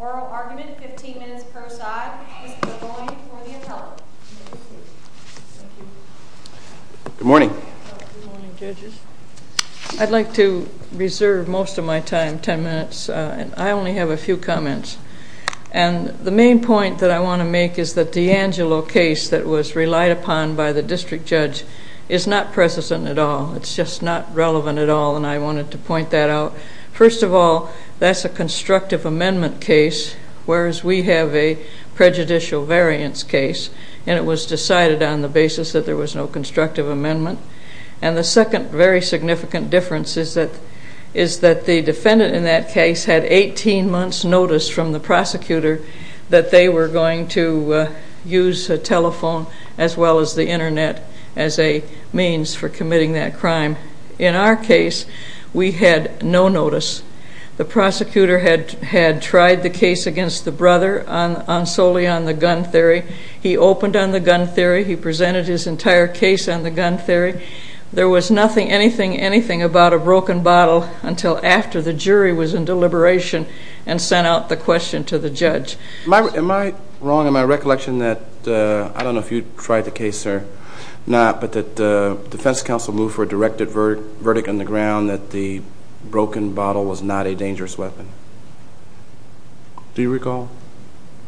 Oral argument, 15 minutes per side. Mr. DeBoyne for the appellate. Good morning. Good morning, judges. I'd like to reserve most of my time, 10 minutes. I only have a few comments. And the main point that I want to make is that the Angelo case that was relied upon by the district judge is not present at all. It's just not relevant at all, and I wanted to point that out. First of all, that's a constructive amendment case, whereas we have a prejudicial variance case, and it was decided on the basis that there was no constructive amendment. And the second very significant difference is that the defendant in that case had 18 months' notice from the prosecutor that they were going to use telephone as well as the internet as a means for committing that crime. In our case, we had no notice. The prosecutor had tried the case against the brother solely on the gun theory. He opened on the gun theory. He presented his entire case on the gun theory. There was nothing, anything about a broken bottle until after the jury was in deliberation and sent out the question to the judge. Am I wrong in my recollection that, I don't know if you tried the case, sir, not, but that the defense counsel moved for a directed verdict on the ground that the broken bottle was not a dangerous weapon? Do you recall?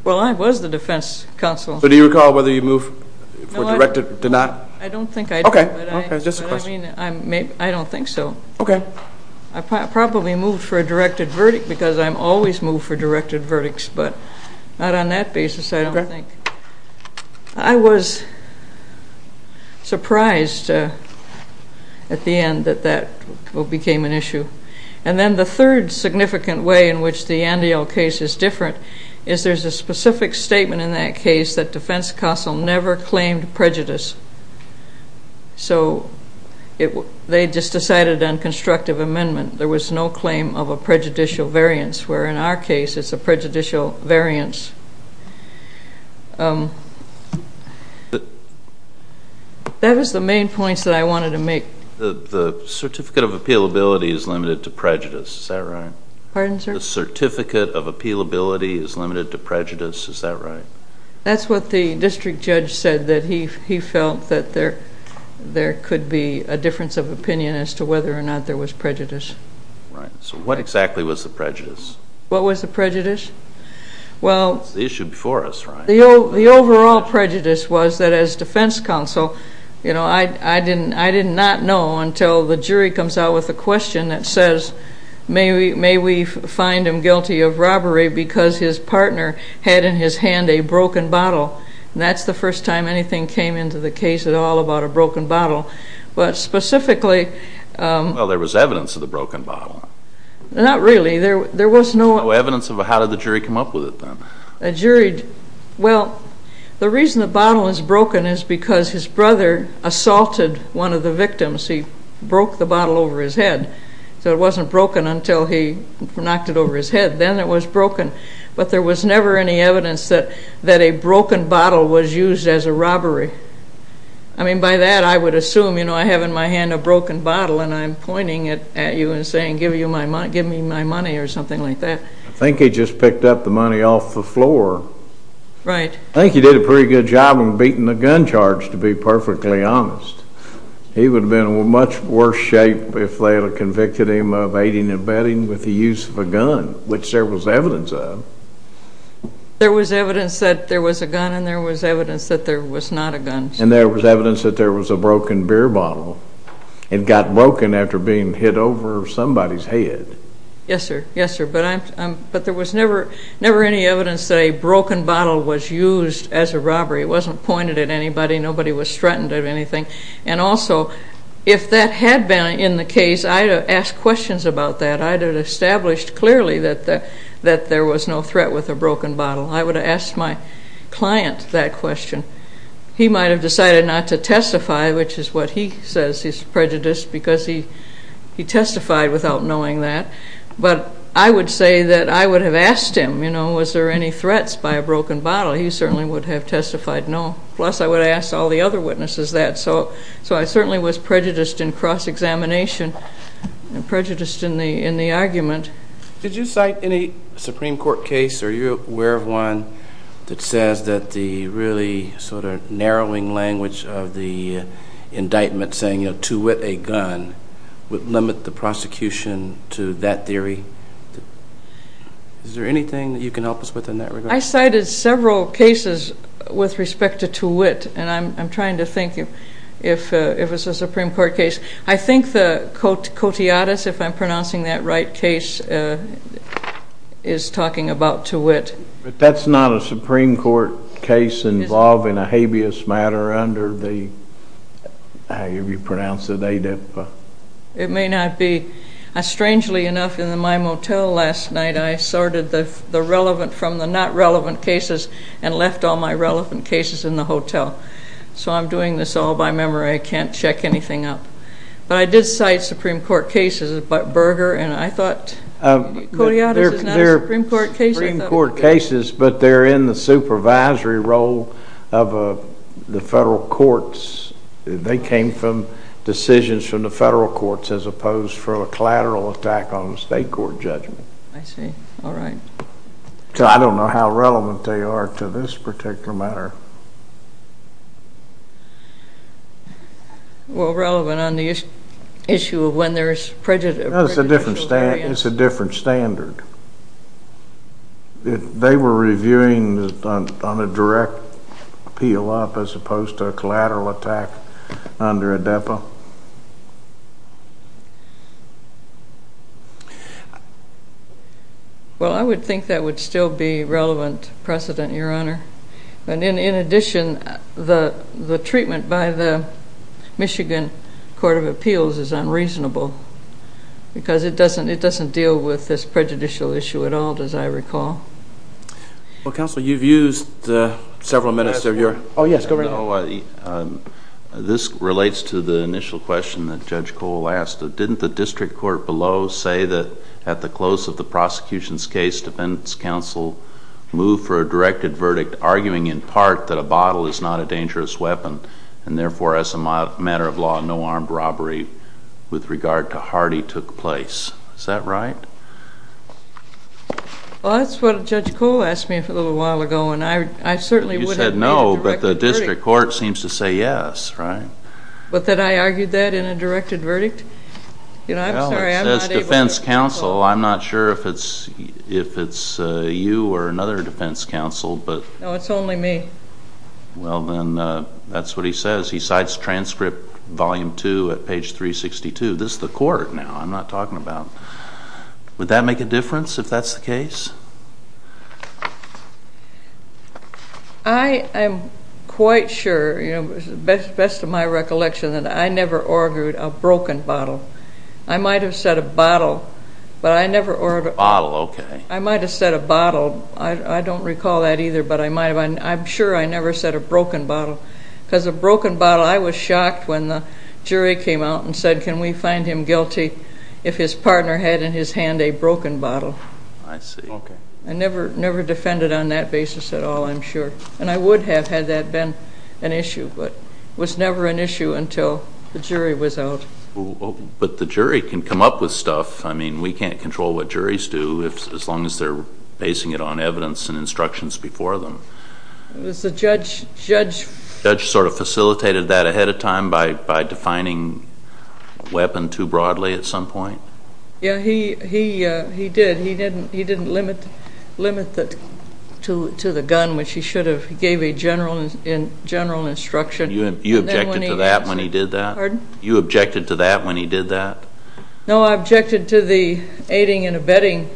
Well, I was the defense counsel. So do you recall whether you moved for directed or not? I don't think I do. Okay, just a question. I don't think so. Okay. I probably moved for a directed verdict because I'm always moved for directed verdicts, but not on that basis, I don't think. I was surprised at the end that that became an issue. And then the third significant way in which the defense counsel never claimed prejudice. So they just decided on constructive amendment. There was no claim of a prejudicial variance, where in our case, it's a prejudicial variance. That was the main points that I wanted to make. The certificate of appealability is limited to prejudice, is that right? That's what the district judge said, that he felt that there could be a difference of opinion as to whether or not there was prejudice. Right. So what exactly was the prejudice? What was the prejudice? Well... It's the issue before us, right? The overall prejudice was that as defense counsel, you know, I did not know until the jury comes out with a question that says, may we find him guilty of a broken bottle. And that's the first time anything came into the case at all about a broken bottle. But specifically... Well, there was evidence of the broken bottle. Not really. There was no... No evidence of a... How did the jury come up with it then? A jury... Well, the reason the bottle is broken is because his brother assaulted one of the victims. He broke the bottle over his head. So it wasn't broken until he knocked it over his head. Then it was broken. But there was never any evidence that a broken bottle was used as a robbery. I mean, by that I would assume, you know, I have in my hand a broken bottle and I'm pointing it at you and saying, give me my money or something like that. I think he just picked up the money off the floor. Right. I think he did a pretty good job of beating the gun charge, to be perfectly honest. He would have been in much worse shape if they had convicted him of aiding and abetting with the use of a gun, which there was evidence of. There was evidence that there was a gun and there was evidence that there was not a gun. And there was evidence that there was a broken beer bottle. It got broken after being hit over somebody's head. Yes, sir. Yes, sir. But I'm... But there was never, never any evidence that a broken bottle was used as a robbery. It wasn't pointed at anybody. Nobody was threatened of anything. And also, if that had been in the case, I'd have asked questions about that. I'd have established clearly that there was no threat with a broken bottle. I would have asked my client that question. He might have decided not to testify, which is what he says is prejudice, because he testified without knowing that. But I would say that I would have asked him, you know, was there any threats by a broken bottle? He certainly would have testified no. Plus, I would have asked all the other witnesses that. So, so I certainly was prejudiced in cross-examination and prejudiced in the, in the argument. Did you cite any Supreme Court case? Are you aware of one that says that the really sort of narrowing language of the indictment saying, you know, to wit a gun would limit the prosecution to that theory? Is there anything that you can help us with in that regard? I cited several cases with respect to to wit, and I'm trying to think if, if it was a Supreme Court case. I think the Cotillades, if I'm pronouncing that right, case is talking about to wit. But that's not a Supreme Court case involving a habeas matter under the, how do you pronounce it, ADEPA? It may not be. Strangely enough, in my motel last night, I sorted the relevant from the not relevant cases and left all my relevant cases in the hotel. So I'm doing this all by memory. I can't check anything up. But I did cite Supreme Court cases, but Berger and I thought, Cotillades is not a Supreme Court case. They're Supreme Court cases, but they're in the supervisory role of the federal courts. They came from decisions from the federal courts, as opposed to a collateral attack on a state court judgment. I see. All right. So I don't know how relevant they are to this particular matter. Well, relevant on the issue of when there's prejudicial variance. No, it's a different standard. They were reviewing on a direct appeal up, as opposed to a collateral attack under ADEPA? Well, I would think that would still be relevant precedent, Your Honor. And in addition, the treatment by the Michigan Court of Appeals is unreasonable, because it doesn't deal with this prejudicial issue at all, as I recall. Well, Counsel, you've used several minutes of your... Oh, yes. Go right ahead. This relates to the initial question that Judge Cole asked. Didn't the district court below say that at the close of the prosecution's case, defense counsel moved for a directed verdict, arguing in part that a bottle is not a dangerous weapon, and therefore, as a matter of law, no armed robbery with regard to Hardy took place. Is that right? Well, that's what Judge Cole asked me a little while ago, and I certainly would have made a directed verdict. You said no, but the district court seems to say yes, right? But that I argued that in a directed verdict? You know, I'm sorry, I'm not able to... Well, it says defense counsel. I'm not sure if it's you or another defense counsel, but... No, it's only me. Well, then, that's what he says. He cites transcript volume 2 at page 362. This is the court now. I'm not talking about... Would that make a difference if that's the case? I am quite sure, you know, best of my recollection, that I never argued a broken bottle. I might have said a bottle, but I never ordered... Bottle, okay. I might have said a bottle. I don't recall that either, but I might have. I'm sure I never said a broken bottle, because a broken bottle... I was shocked when the jury came out and said, can we find him guilty if his partner had in his hand a broken bottle? I see. Okay. I never defended on that basis at all, I'm sure. And I would have had that been an issue, but it was never an issue until the jury was out. But the jury can come up with stuff. I mean, we can't control what juries do, as long as they're basing it on evidence and instructions before them. It was the judge... Judge sort of facilitated that ahead of time by defining weapon too broadly at some point? Yeah, he did. He didn't limit it to the gun, which he should have. He gave a general instruction. You objected to that when he did that? Pardon? You objected to that when he did that? No, I objected to the aiding and abetting,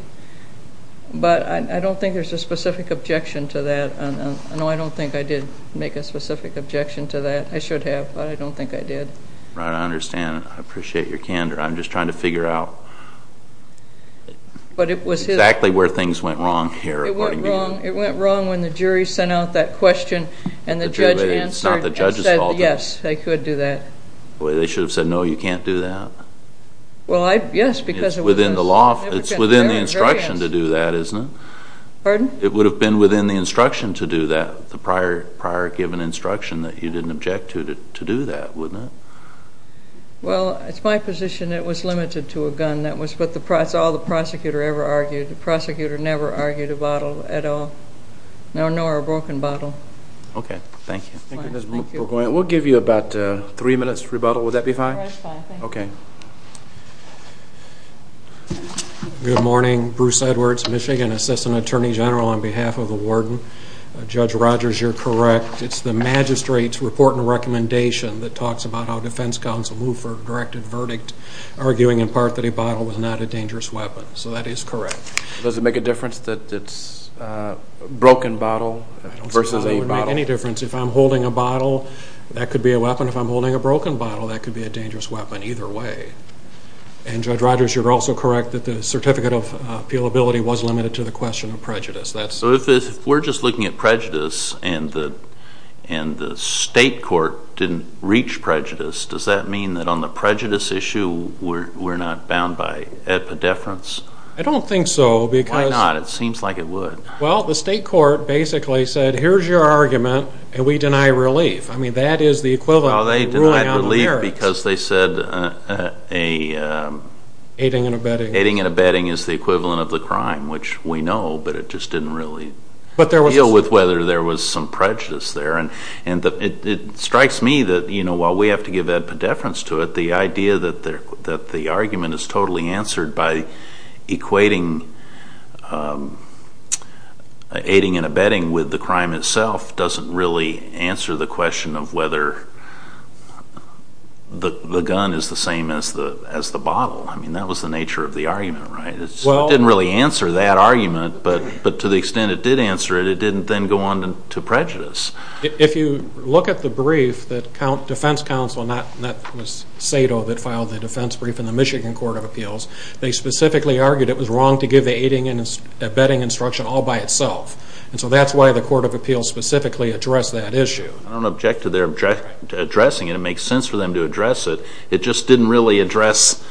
but I don't think there's a specific objection to that. No, I don't think I did make a specific objection to that. I should have, but I don't think I did. Right, I understand. I appreciate your candor. I'm just trying to figure out exactly where things went wrong here, according to you. It went wrong when the jury sent out that question and the judge answered and said, yes, they could do that. Well, they should have said, no, you can't do that. Well, yes, because it was... Within the law, it's within the instruction to do that, isn't it? Pardon? It would have been within the instruction to do that, the prior given instruction that you didn't object to do that, wouldn't it? Well, it's my position it was limited to a gun. That's all the prosecutor ever argued. The prosecutor never argued a bottle at all, nor a broken bottle. Okay, thank you. Thank you, Ms. McGoyne. We'll give you about three minutes rebuttal. Would that be fine? That's fine, thank you. Okay. Good morning. Bruce Edwards, Michigan, Assistant Attorney General on behalf of the warden. Judge Rogers, you're correct. It's the magistrate's report and recommendation that talks about how defense counsel moved for a directed verdict, arguing in part that a bottle was not a dangerous weapon. So that is correct. Does it make a difference that it's a broken bottle versus a bottle? Any difference. If I'm holding a bottle, that could be a weapon. If I'm holding a broken bottle, that could be a dangerous weapon either way. And Judge Rogers, you're also correct that the certificate of appealability was limited to the question of prejudice. So if we're just looking at prejudice and the state court didn't reach prejudice, does that mean that on the prejudice issue we're not bound by epidefference? I don't think so because... Why not? It seems like it would. Well, the state court basically said, here's your argument, and we deny relief. I mean, that is the equivalent of ruling on the merits. Well, they denied relief because they said aiding and abetting is the equivalent of the crime, which we know, but it just didn't really deal with whether there was some prejudice there. And it strikes me that while we have to give epidefference to it, the idea that the argument is totally answered by equating aiding and abetting with the crime itself doesn't really answer the question of whether the gun is the same as the bottle. I mean, that was the nature of the argument, right? It didn't really answer that argument, but to the extent it did answer it, it didn't then go on to prejudice. If you look at the brief that defense counsel, and that was Sato that filed the defense brief in the Michigan Court of Appeals, they specifically argued it was wrong to give the aiding and abetting instruction all by itself. And so that's why the Court of Appeals specifically addressed that issue. I don't object to their addressing it. It makes sense for them to address it. It just didn't really address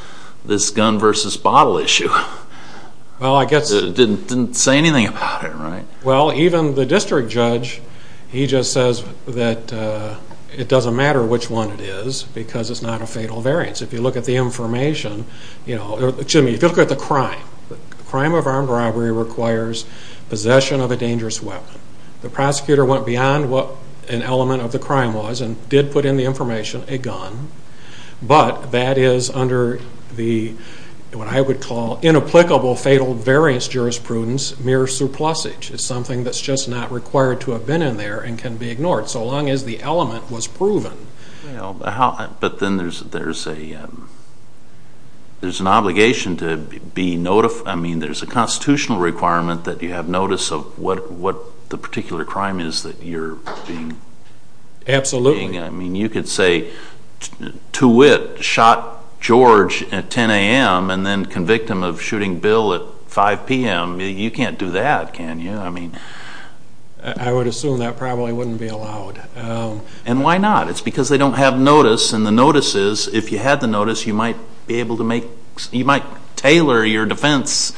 this gun versus bottle issue. Well, I guess... It didn't say anything about it, right? Well, even the district judge, he just says that it doesn't matter which one it is because it's not a fatal variance. If you look at the information, you know, excuse me, if you look at the crime, the crime of armed robbery requires possession of a dangerous weapon. The prosecutor went beyond what an element of the crime was and did put in the information, a gun, but that is under the, what I would call, inapplicable fatal variance jurisprudence, mere suplusage. It's something that's just not required to have been in there and can be ignored, so long as the element was proven. But then there's an obligation to be notified, I mean, there's a constitutional requirement that you have notice of what the particular crime is that you're being... Absolutely. I mean, you could say, to wit, shot George at 10 a.m. and then convicted him of shooting Bill at 5 p.m., you can't do that, can you? I mean... I would assume that probably wouldn't be allowed. And why not? It's because they don't have notice, and the notice is, if you had the notice, you might be able to make... You might tailor your defense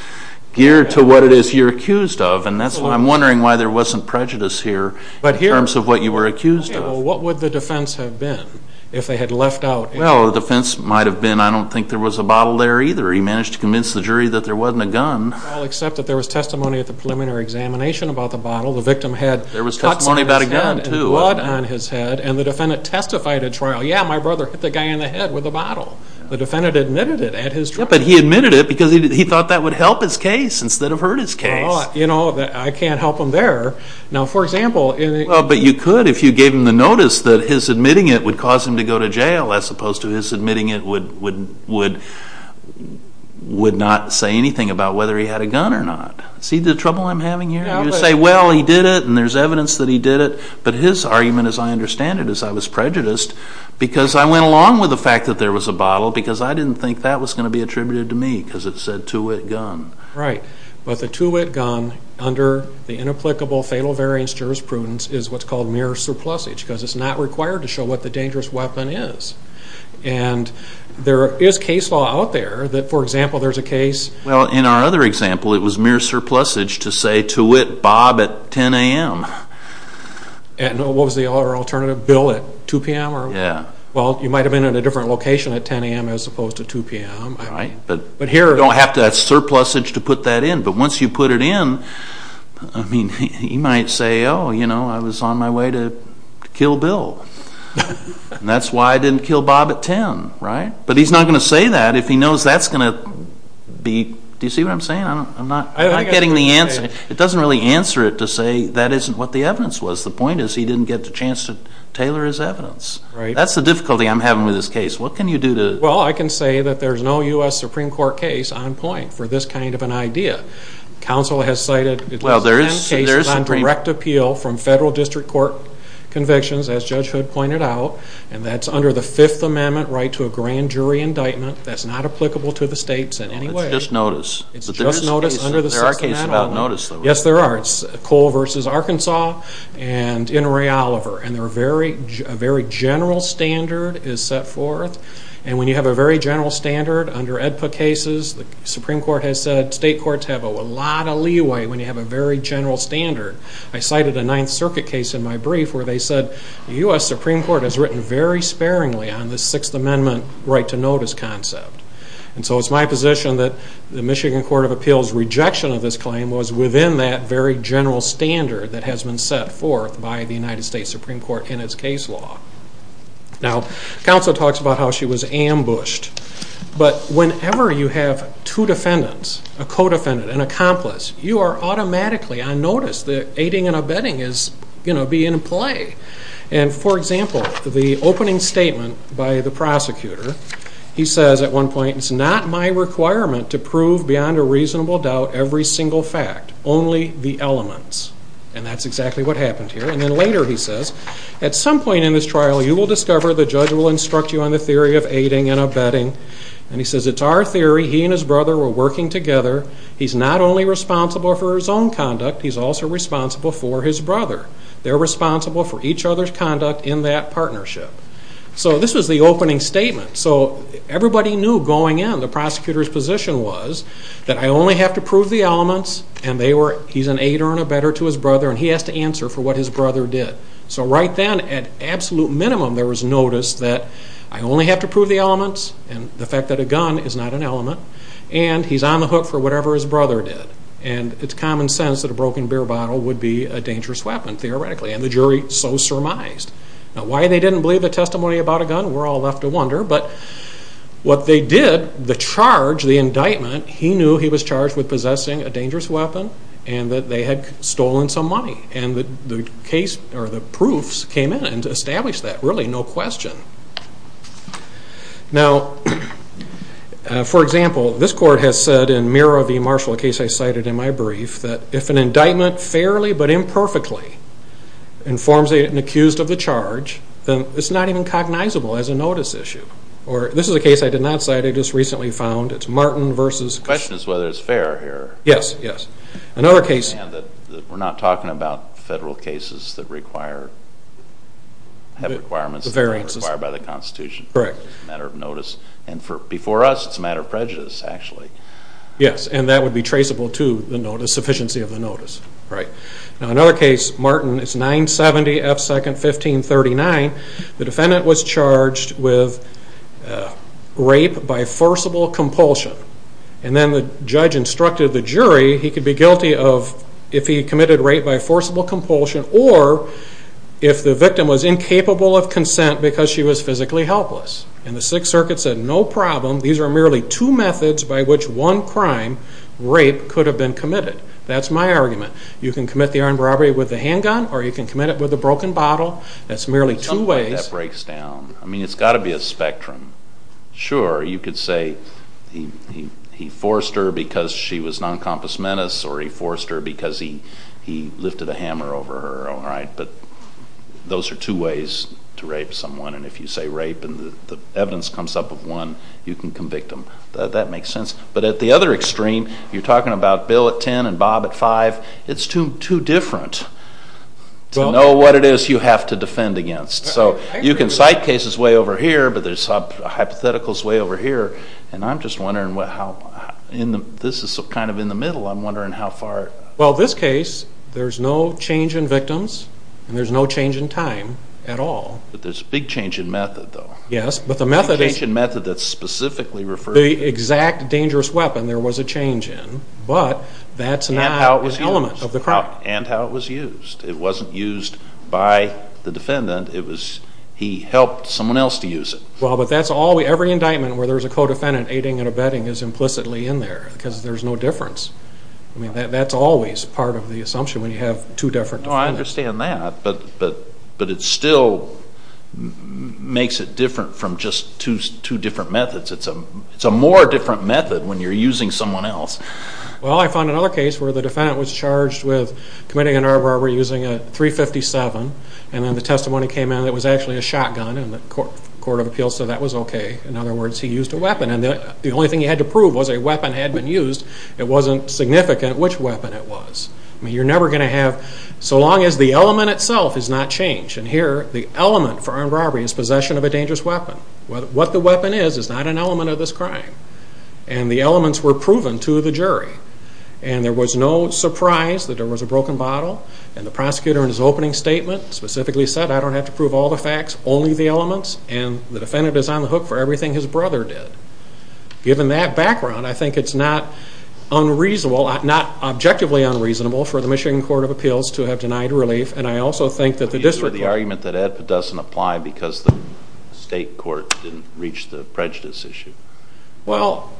gear to what it is you're accused of, and that's why I'm wondering why there wasn't prejudice here in terms of what you were accused of. Well, what would the defense have been if they had left out... Well, the defense might have been, I don't think there was a bottle there either. He managed to convince the jury that there wasn't a gun. Well, except that there was testimony at the preliminary examination about the bottle. The victim had cuts on his head and blood on his head, and the defendant testified at trial, yeah, my brother hit the guy in the head with a bottle. The defendant admitted it at his trial. Yeah, but he admitted it because he thought that would help his case instead of hurt his case. Well, you know, I can't help him there. Now, for example... Well, but you could if you gave him the notice that his admitting it would cause him to go to jail, as opposed to his admitting it would not say anything about whether he had a gun or not. See the trouble I'm having here? You say, well, he did it, and there's evidence that he did it, but his argument, as I understand it, is I was prejudiced because I went along with the fact that there was a bottle because I didn't think that was going to be attributed to me because it said, to wit, gun. Right, but the to wit gun under the inapplicable fatal variance jurisprudence is what's called mere surplusage because it's not required to show what the dangerous weapon is, and there is case law out there that, for example, there's a case... Well, in our other example, it was mere surplusage to say, to wit, Bob, at 10 a.m. And what was the other alternative, Bill, at 2 p.m.? Yeah. Well, you might have been in a different location at 10 a.m. as opposed to 2 p.m. Right, but you don't have to have surplusage to put that in, but once you put it in, I mean, he might say, oh, you know, I was on my way to kill Bill, and that's why I didn't kill Bob at 10, right? But he's not going to say that if he knows that's going to be...do you see what I'm saying? I'm not getting the answer. It doesn't really answer it to say that isn't what the evidence was. The point is he didn't get the chance to tailor his evidence. Right. That's the difficulty I'm having with this case. What can you do to... Well, I can say that there's no U.S. Supreme Court case on point for this kind of an idea. Counsel has cited at least 10 cases on direct appeal from federal district court convictions, as Judge Hood pointed out, and that's under the Fifth Amendment right to a grand jury indictment. That's not applicable to the states in any way. It's just notice. It's just notice under the... There are cases about notice, though, right? Yes, there are. It's Cole v. Arkansas and Inouye Oliver, and a very general standard is set forth. And when you have a very general standard under AEDPA cases, the Supreme Court has said state courts have a lot of leeway when you have a very general standard. I cited a Ninth Circuit case in my brief where they said the U.S. Supreme Court has written very sparingly on this Sixth Amendment right to notice concept. And so it's my position that the Michigan Court of Appeals' rejection of this claim was within that very general standard that has been set forth by the United States Supreme Court in its case law. Now, counsel talks about how she was ambushed, but whenever you have two defendants, a co-defendant, an accomplice, you are automatically on notice. The aiding and abetting is, you know, be in play. And for example, the opening statement by the prosecutor, he says at one point, it's not my requirement to prove beyond a reasonable doubt every single fact, only the elements. And that's exactly what happened here. And then later he says, at some point in this trial, you will discover the judge will instruct you on the theory of aiding and abetting. And he says, it's our theory. He and his brother were working together. He's not only responsible for his own conduct, he's also responsible for his brother. They're responsible for each other's conduct in that partnership. So this was the opening statement. So everybody knew going in, the prosecutor's position was that I only have to prove the elements and he's an aider and abetter to his brother. And he has to answer for what his brother did. So right then, at absolute minimum, there was notice that I only have to prove the elements and the fact that a gun is not an element. And he's on the hook for whatever his brother did. And it's common sense that a broken beer bottle would be a dangerous weapon, theoretically. And the jury so surmised. Now, why they didn't believe the testimony about a gun, we're all left to wonder. But what they did, the charge, the indictment, he knew he was charged with possessing a dangerous weapon and that they had stolen some money. And the case or the proofs came in and established that. Really, no question. Now, for example, this court has said in Mira V. Marshall, a case I cited in my brief, that if an indictment fairly but imperfectly informs an accused of the charge, then it's not even cognizable as a notice issue. Or this is a case I did not cite, I just recently found. It's Martin versus. The question is whether it's fair here. Yes, yes. Another case. And that we're not talking about federal cases that require, have requirements that are required by the Constitution. Correct. Matter of notice. And for, before us, it's a matter of prejudice, actually. Yes, and that would be traceable to the notice, sufficiency of the notice. Right. Now, another case, Martin, it's 970 F. 2nd, 1539. The defendant was charged with rape by forcible compulsion. And then the judge instructed the jury, he could be guilty of, if he committed rape by forcible compulsion, or if the victim was incapable of consent because she was physically helpless. And the Sixth Circuit said, no problem. These are merely two methods by which one crime, rape, could have been committed. That's my argument. You can commit the armed robbery with a handgun, or you can commit it with a broken bottle. That's merely two ways. Something like that breaks down. I mean, it's got to be a spectrum. Sure, you could say he forced her because she was non-compass menace, or he forced her because he lifted a hammer over her, all right? But those are two ways to rape someone. And if you say rape and the evidence comes up of one, you can convict them. That makes sense. But at the other extreme, you're talking about Bill at 10 and Bob at 5. It's too different. To know what it is you have to defend against. So you can cite cases way over here, but there's some hypotheticals way over here. And I'm just wondering how, this is kind of in the middle, I'm wondering how far. Well, this case, there's no change in victims, and there's no change in time at all. But there's a big change in method, though. Yes, but the method is. A change in method that's specifically referred to. The exact dangerous weapon there was a change in. But that's not an element of the crime. And how it was used. It wasn't used by the defendant. It was, he helped someone else to use it. Well, but that's all, every indictment where there's a co-defendant aiding and abetting is implicitly in there, because there's no difference. I mean, that's always part of the assumption when you have two different defendants. Well, I understand that, but it still makes it different from just two different methods. It's a more different method when you're using someone else. Well, I found another case where the defendant was charged with committing an armed robbery using a .357, and then the testimony came in that it was actually a shotgun, and the court of appeals said that was okay. In other words, he used a weapon. And the only thing he had to prove was a weapon had been used. It wasn't significant which weapon it was. I mean, you're never going to have, so long as the element itself is not changed. And here, the element for armed robbery is possession of a dangerous weapon. What the weapon is, is not an element of this crime. And the elements were proven to the jury. And there was no surprise that there was a broken bottle. And the prosecutor in his opening statement specifically said, I don't have to prove all the facts, only the elements. And the defendant is on the hook for everything his brother did. Given that background, I think it's not objectively unreasonable for the Michigan Court of Appeals to have denied relief. And I also think that the district court- district court didn't reach the prejudice issue. Well,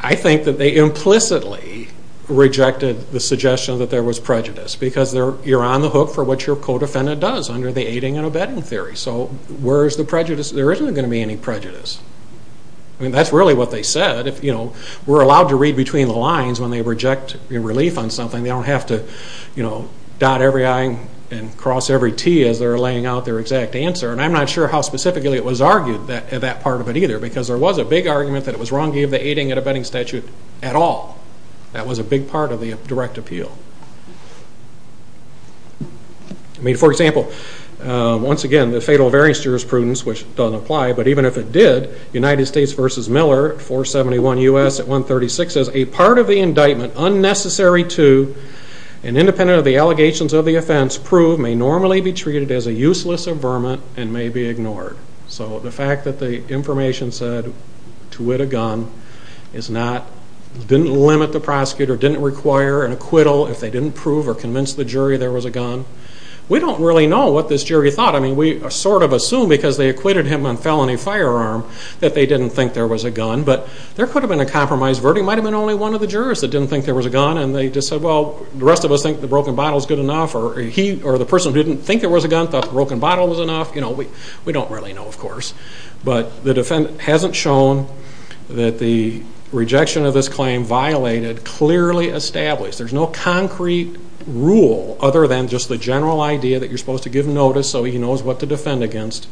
I think that they implicitly rejected the suggestion that there was prejudice. Because you're on the hook for what your co-defendant does under the aiding and abetting theory. So, where is the prejudice? There isn't going to be any prejudice. I mean, that's really what they said. If, you know, we're allowed to read between the lines when they reject relief on something, they don't have to, you know, dot every I and cross every T as they're laying out their exact answer. And I'm not sure how specifically it was argued, that part of it either. Because there was a big argument that it was wrong to give the aiding and abetting statute at all. That was a big part of the direct appeal. I mean, for example, once again, the fatal variance jurisprudence, which doesn't apply, but even if it did, United States v. Miller, 471 U.S. at 136 says, a part of the indictment unnecessary to and independent of the allegations of the offense proved may normally be treated as a useless averment and may be ignored. So, the fact that the information said to wit a gun is not, didn't limit the prosecutor, didn't require an acquittal if they didn't prove or convince the jury there was a gun. We don't really know what this jury thought. I mean, we sort of assume, because they acquitted him on felony firearm, that they didn't think there was a gun. But there could have been a compromise verdict. It might have been only one of the jurors that didn't think there was a gun. And they just said, well, the rest of us think the broken bottle is good enough. Or he, or the person who didn't think there was a gun thought the broken bottle was enough. You know, we don't really know, of course. But the defendant hasn't shown that the rejection of this claim violated clearly established. There's no concrete rule other than just the general idea that you're supposed to give notice so he knows what to defend against.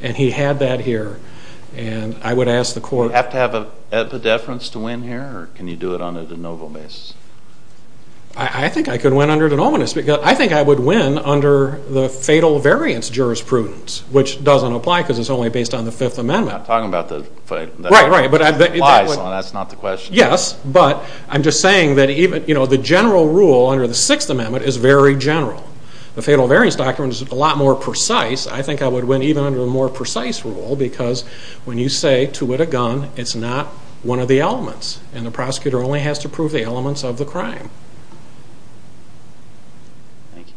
And he had that here. And I would ask the court. Do you have to have a deference to win here, or can you do it on a de novo basis? I think I could win under de nominis. I think I would win under the fatal variance jurisprudence, which doesn't apply because it's only based on the Fifth Amendment. You're not talking about the... Right, right. That's not the question. Yes, but I'm just saying that even, you know, the general rule under the Sixth Amendment is very general. The fatal variance document is a lot more precise. I think I would win even under a more precise rule, because when you say, to wit a gun, it's not one of the elements. And the prosecutor only has to prove the elements of the crime. Thank you.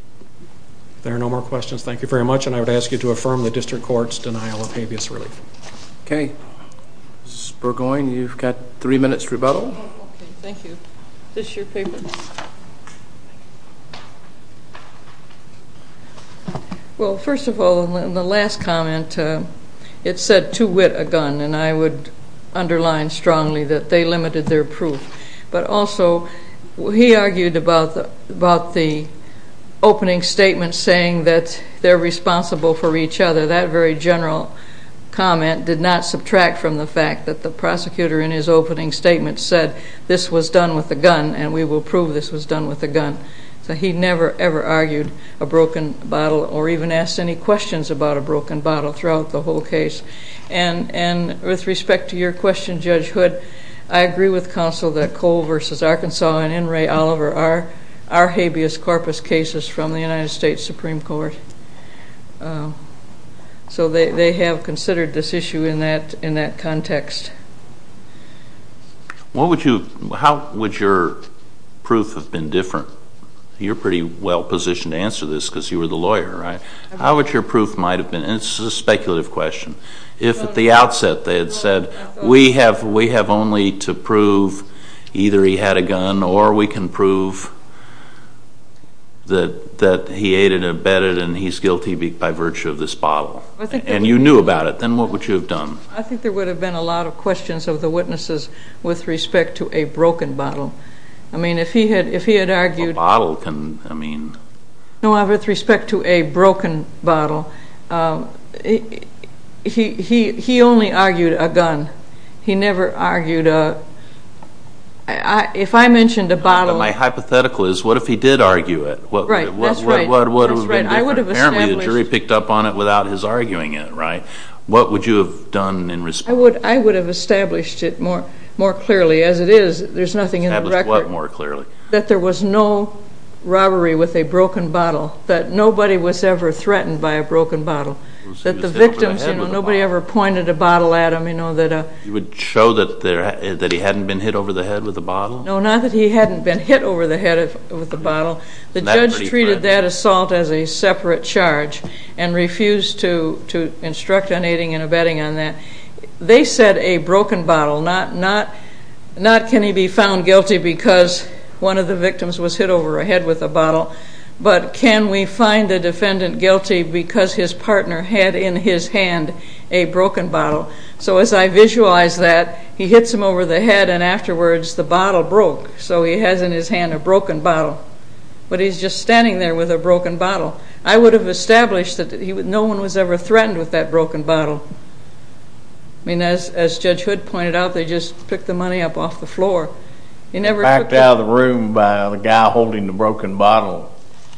If there are no more questions, thank you very much. And I would ask you to affirm the district court's denial of habeas relief. Okay. Ms. Burgoyne, you've got three minutes to rebuttal. Okay, thank you. Is this your paper? Well, first of all, in the last comment, it said, to wit a gun. And I would underline strongly that they limited their proof. But also, he argued about the opening statement saying that they're responsible for each other. That very general comment did not subtract from the fact that the prosecutor, in his opening statement, said this was done with a gun, and we will prove this was done with a gun. So he never, ever argued a broken bottle or even asked any questions about a broken bottle throughout the whole case. And with respect to your question, Judge Hood, I agree with counsel that Cole v. Arkansas and N. Ray Oliver are habeas corpus cases from the United States Supreme Court. So they have considered this issue in that context. How would your proof have been different? You're pretty well positioned to answer this because you were the lawyer, right? How would your proof might have been? And this is a speculative question. If at the outset they had said, we have only to prove either he had a gun or we can prove that he ate it and bit it and he's guilty by virtue of this bottle, and you knew about it, then what would you have done? I think there would have been a lot of questions of the witnesses with respect to a broken bottle. I mean, if he had argued... A bottle can, I mean... No, with respect to a broken bottle, he only argued a gun. He never argued a... If I mentioned a bottle... My hypothetical is, what if he did argue it? Right, that's right. What would have been different? I would have established... Apparently the jury picked up on it without his arguing it, right? What would you have done in response? I would have established it more clearly. As it is, there's nothing in the record... Establish what more clearly? That there was no robbery with a broken bottle, that nobody was ever threatened by a broken bottle, that the victims, you know, nobody ever pointed a bottle at them, you know, that... You would show that he hadn't been hit over the head with a bottle? No, not that he hadn't been hit over the head with a bottle. The judge treated that assault as a separate charge and refused to instruct on aiding and abetting on that. They said a broken bottle, not can he be found guilty because one of the victims was hit over the head with a bottle, but can we find the defendant guilty because his partner had in his hand a broken bottle? So as I visualize that, he hits him over the head and afterwards the bottle broke, so he has in his hand a broken bottle. But he's just standing there with a broken bottle. I would have established that no one was ever threatened with that broken bottle. I mean, as Judge Hood pointed out, they just picked the money up off the floor. You never picked up... Backed out of the room by the guy holding the broken bottle.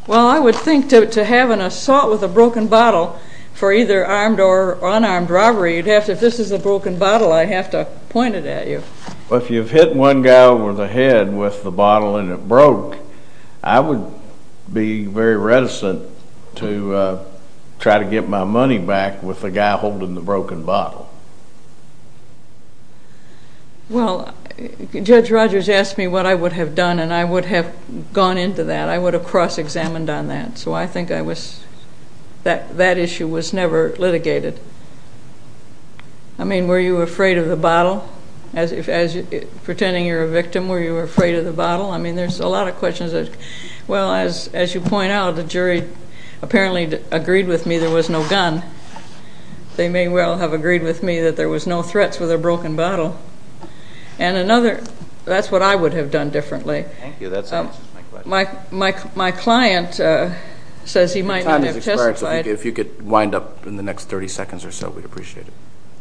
Well, I would think to have an assault with a broken bottle for either armed or unarmed robbery, you'd have to, if this is a broken bottle, I'd have to point it at you. Well, if you've hit one guy over the head with the bottle and it broke, I would be very reticent to try to get my money back with the guy holding the broken bottle. Well, Judge Rogers asked me what I would have done, and I would have gone into that. I would have cross-examined on that, so I think I was... That issue was never litigated. I mean, were you afraid of the bottle? Pretending you're a victim, were you afraid of the bottle? I mean, there's a lot of questions that... Well, as you point out, the jury apparently agreed with me there was no gun. They may well have agreed with me that there was no threats with a broken bottle. And another... That's what I would have done differently. Thank you. That answers my question. My client says he might not have testified... Your time has expired, so if you could wind up in the next 30 seconds or so, we'd appreciate it.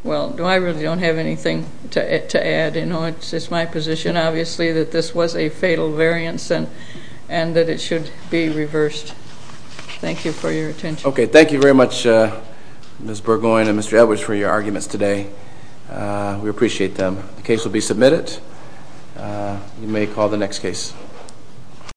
Well, I really don't have anything to add. It's my position, obviously, that this was a fatal variance and that it should be reversed. Thank you for your attention. Okay. Thank you very much, Ms. Burgoyne and Mr. Edwards, for your arguments today. We appreciate them. The case will be submitted. You may call the next case.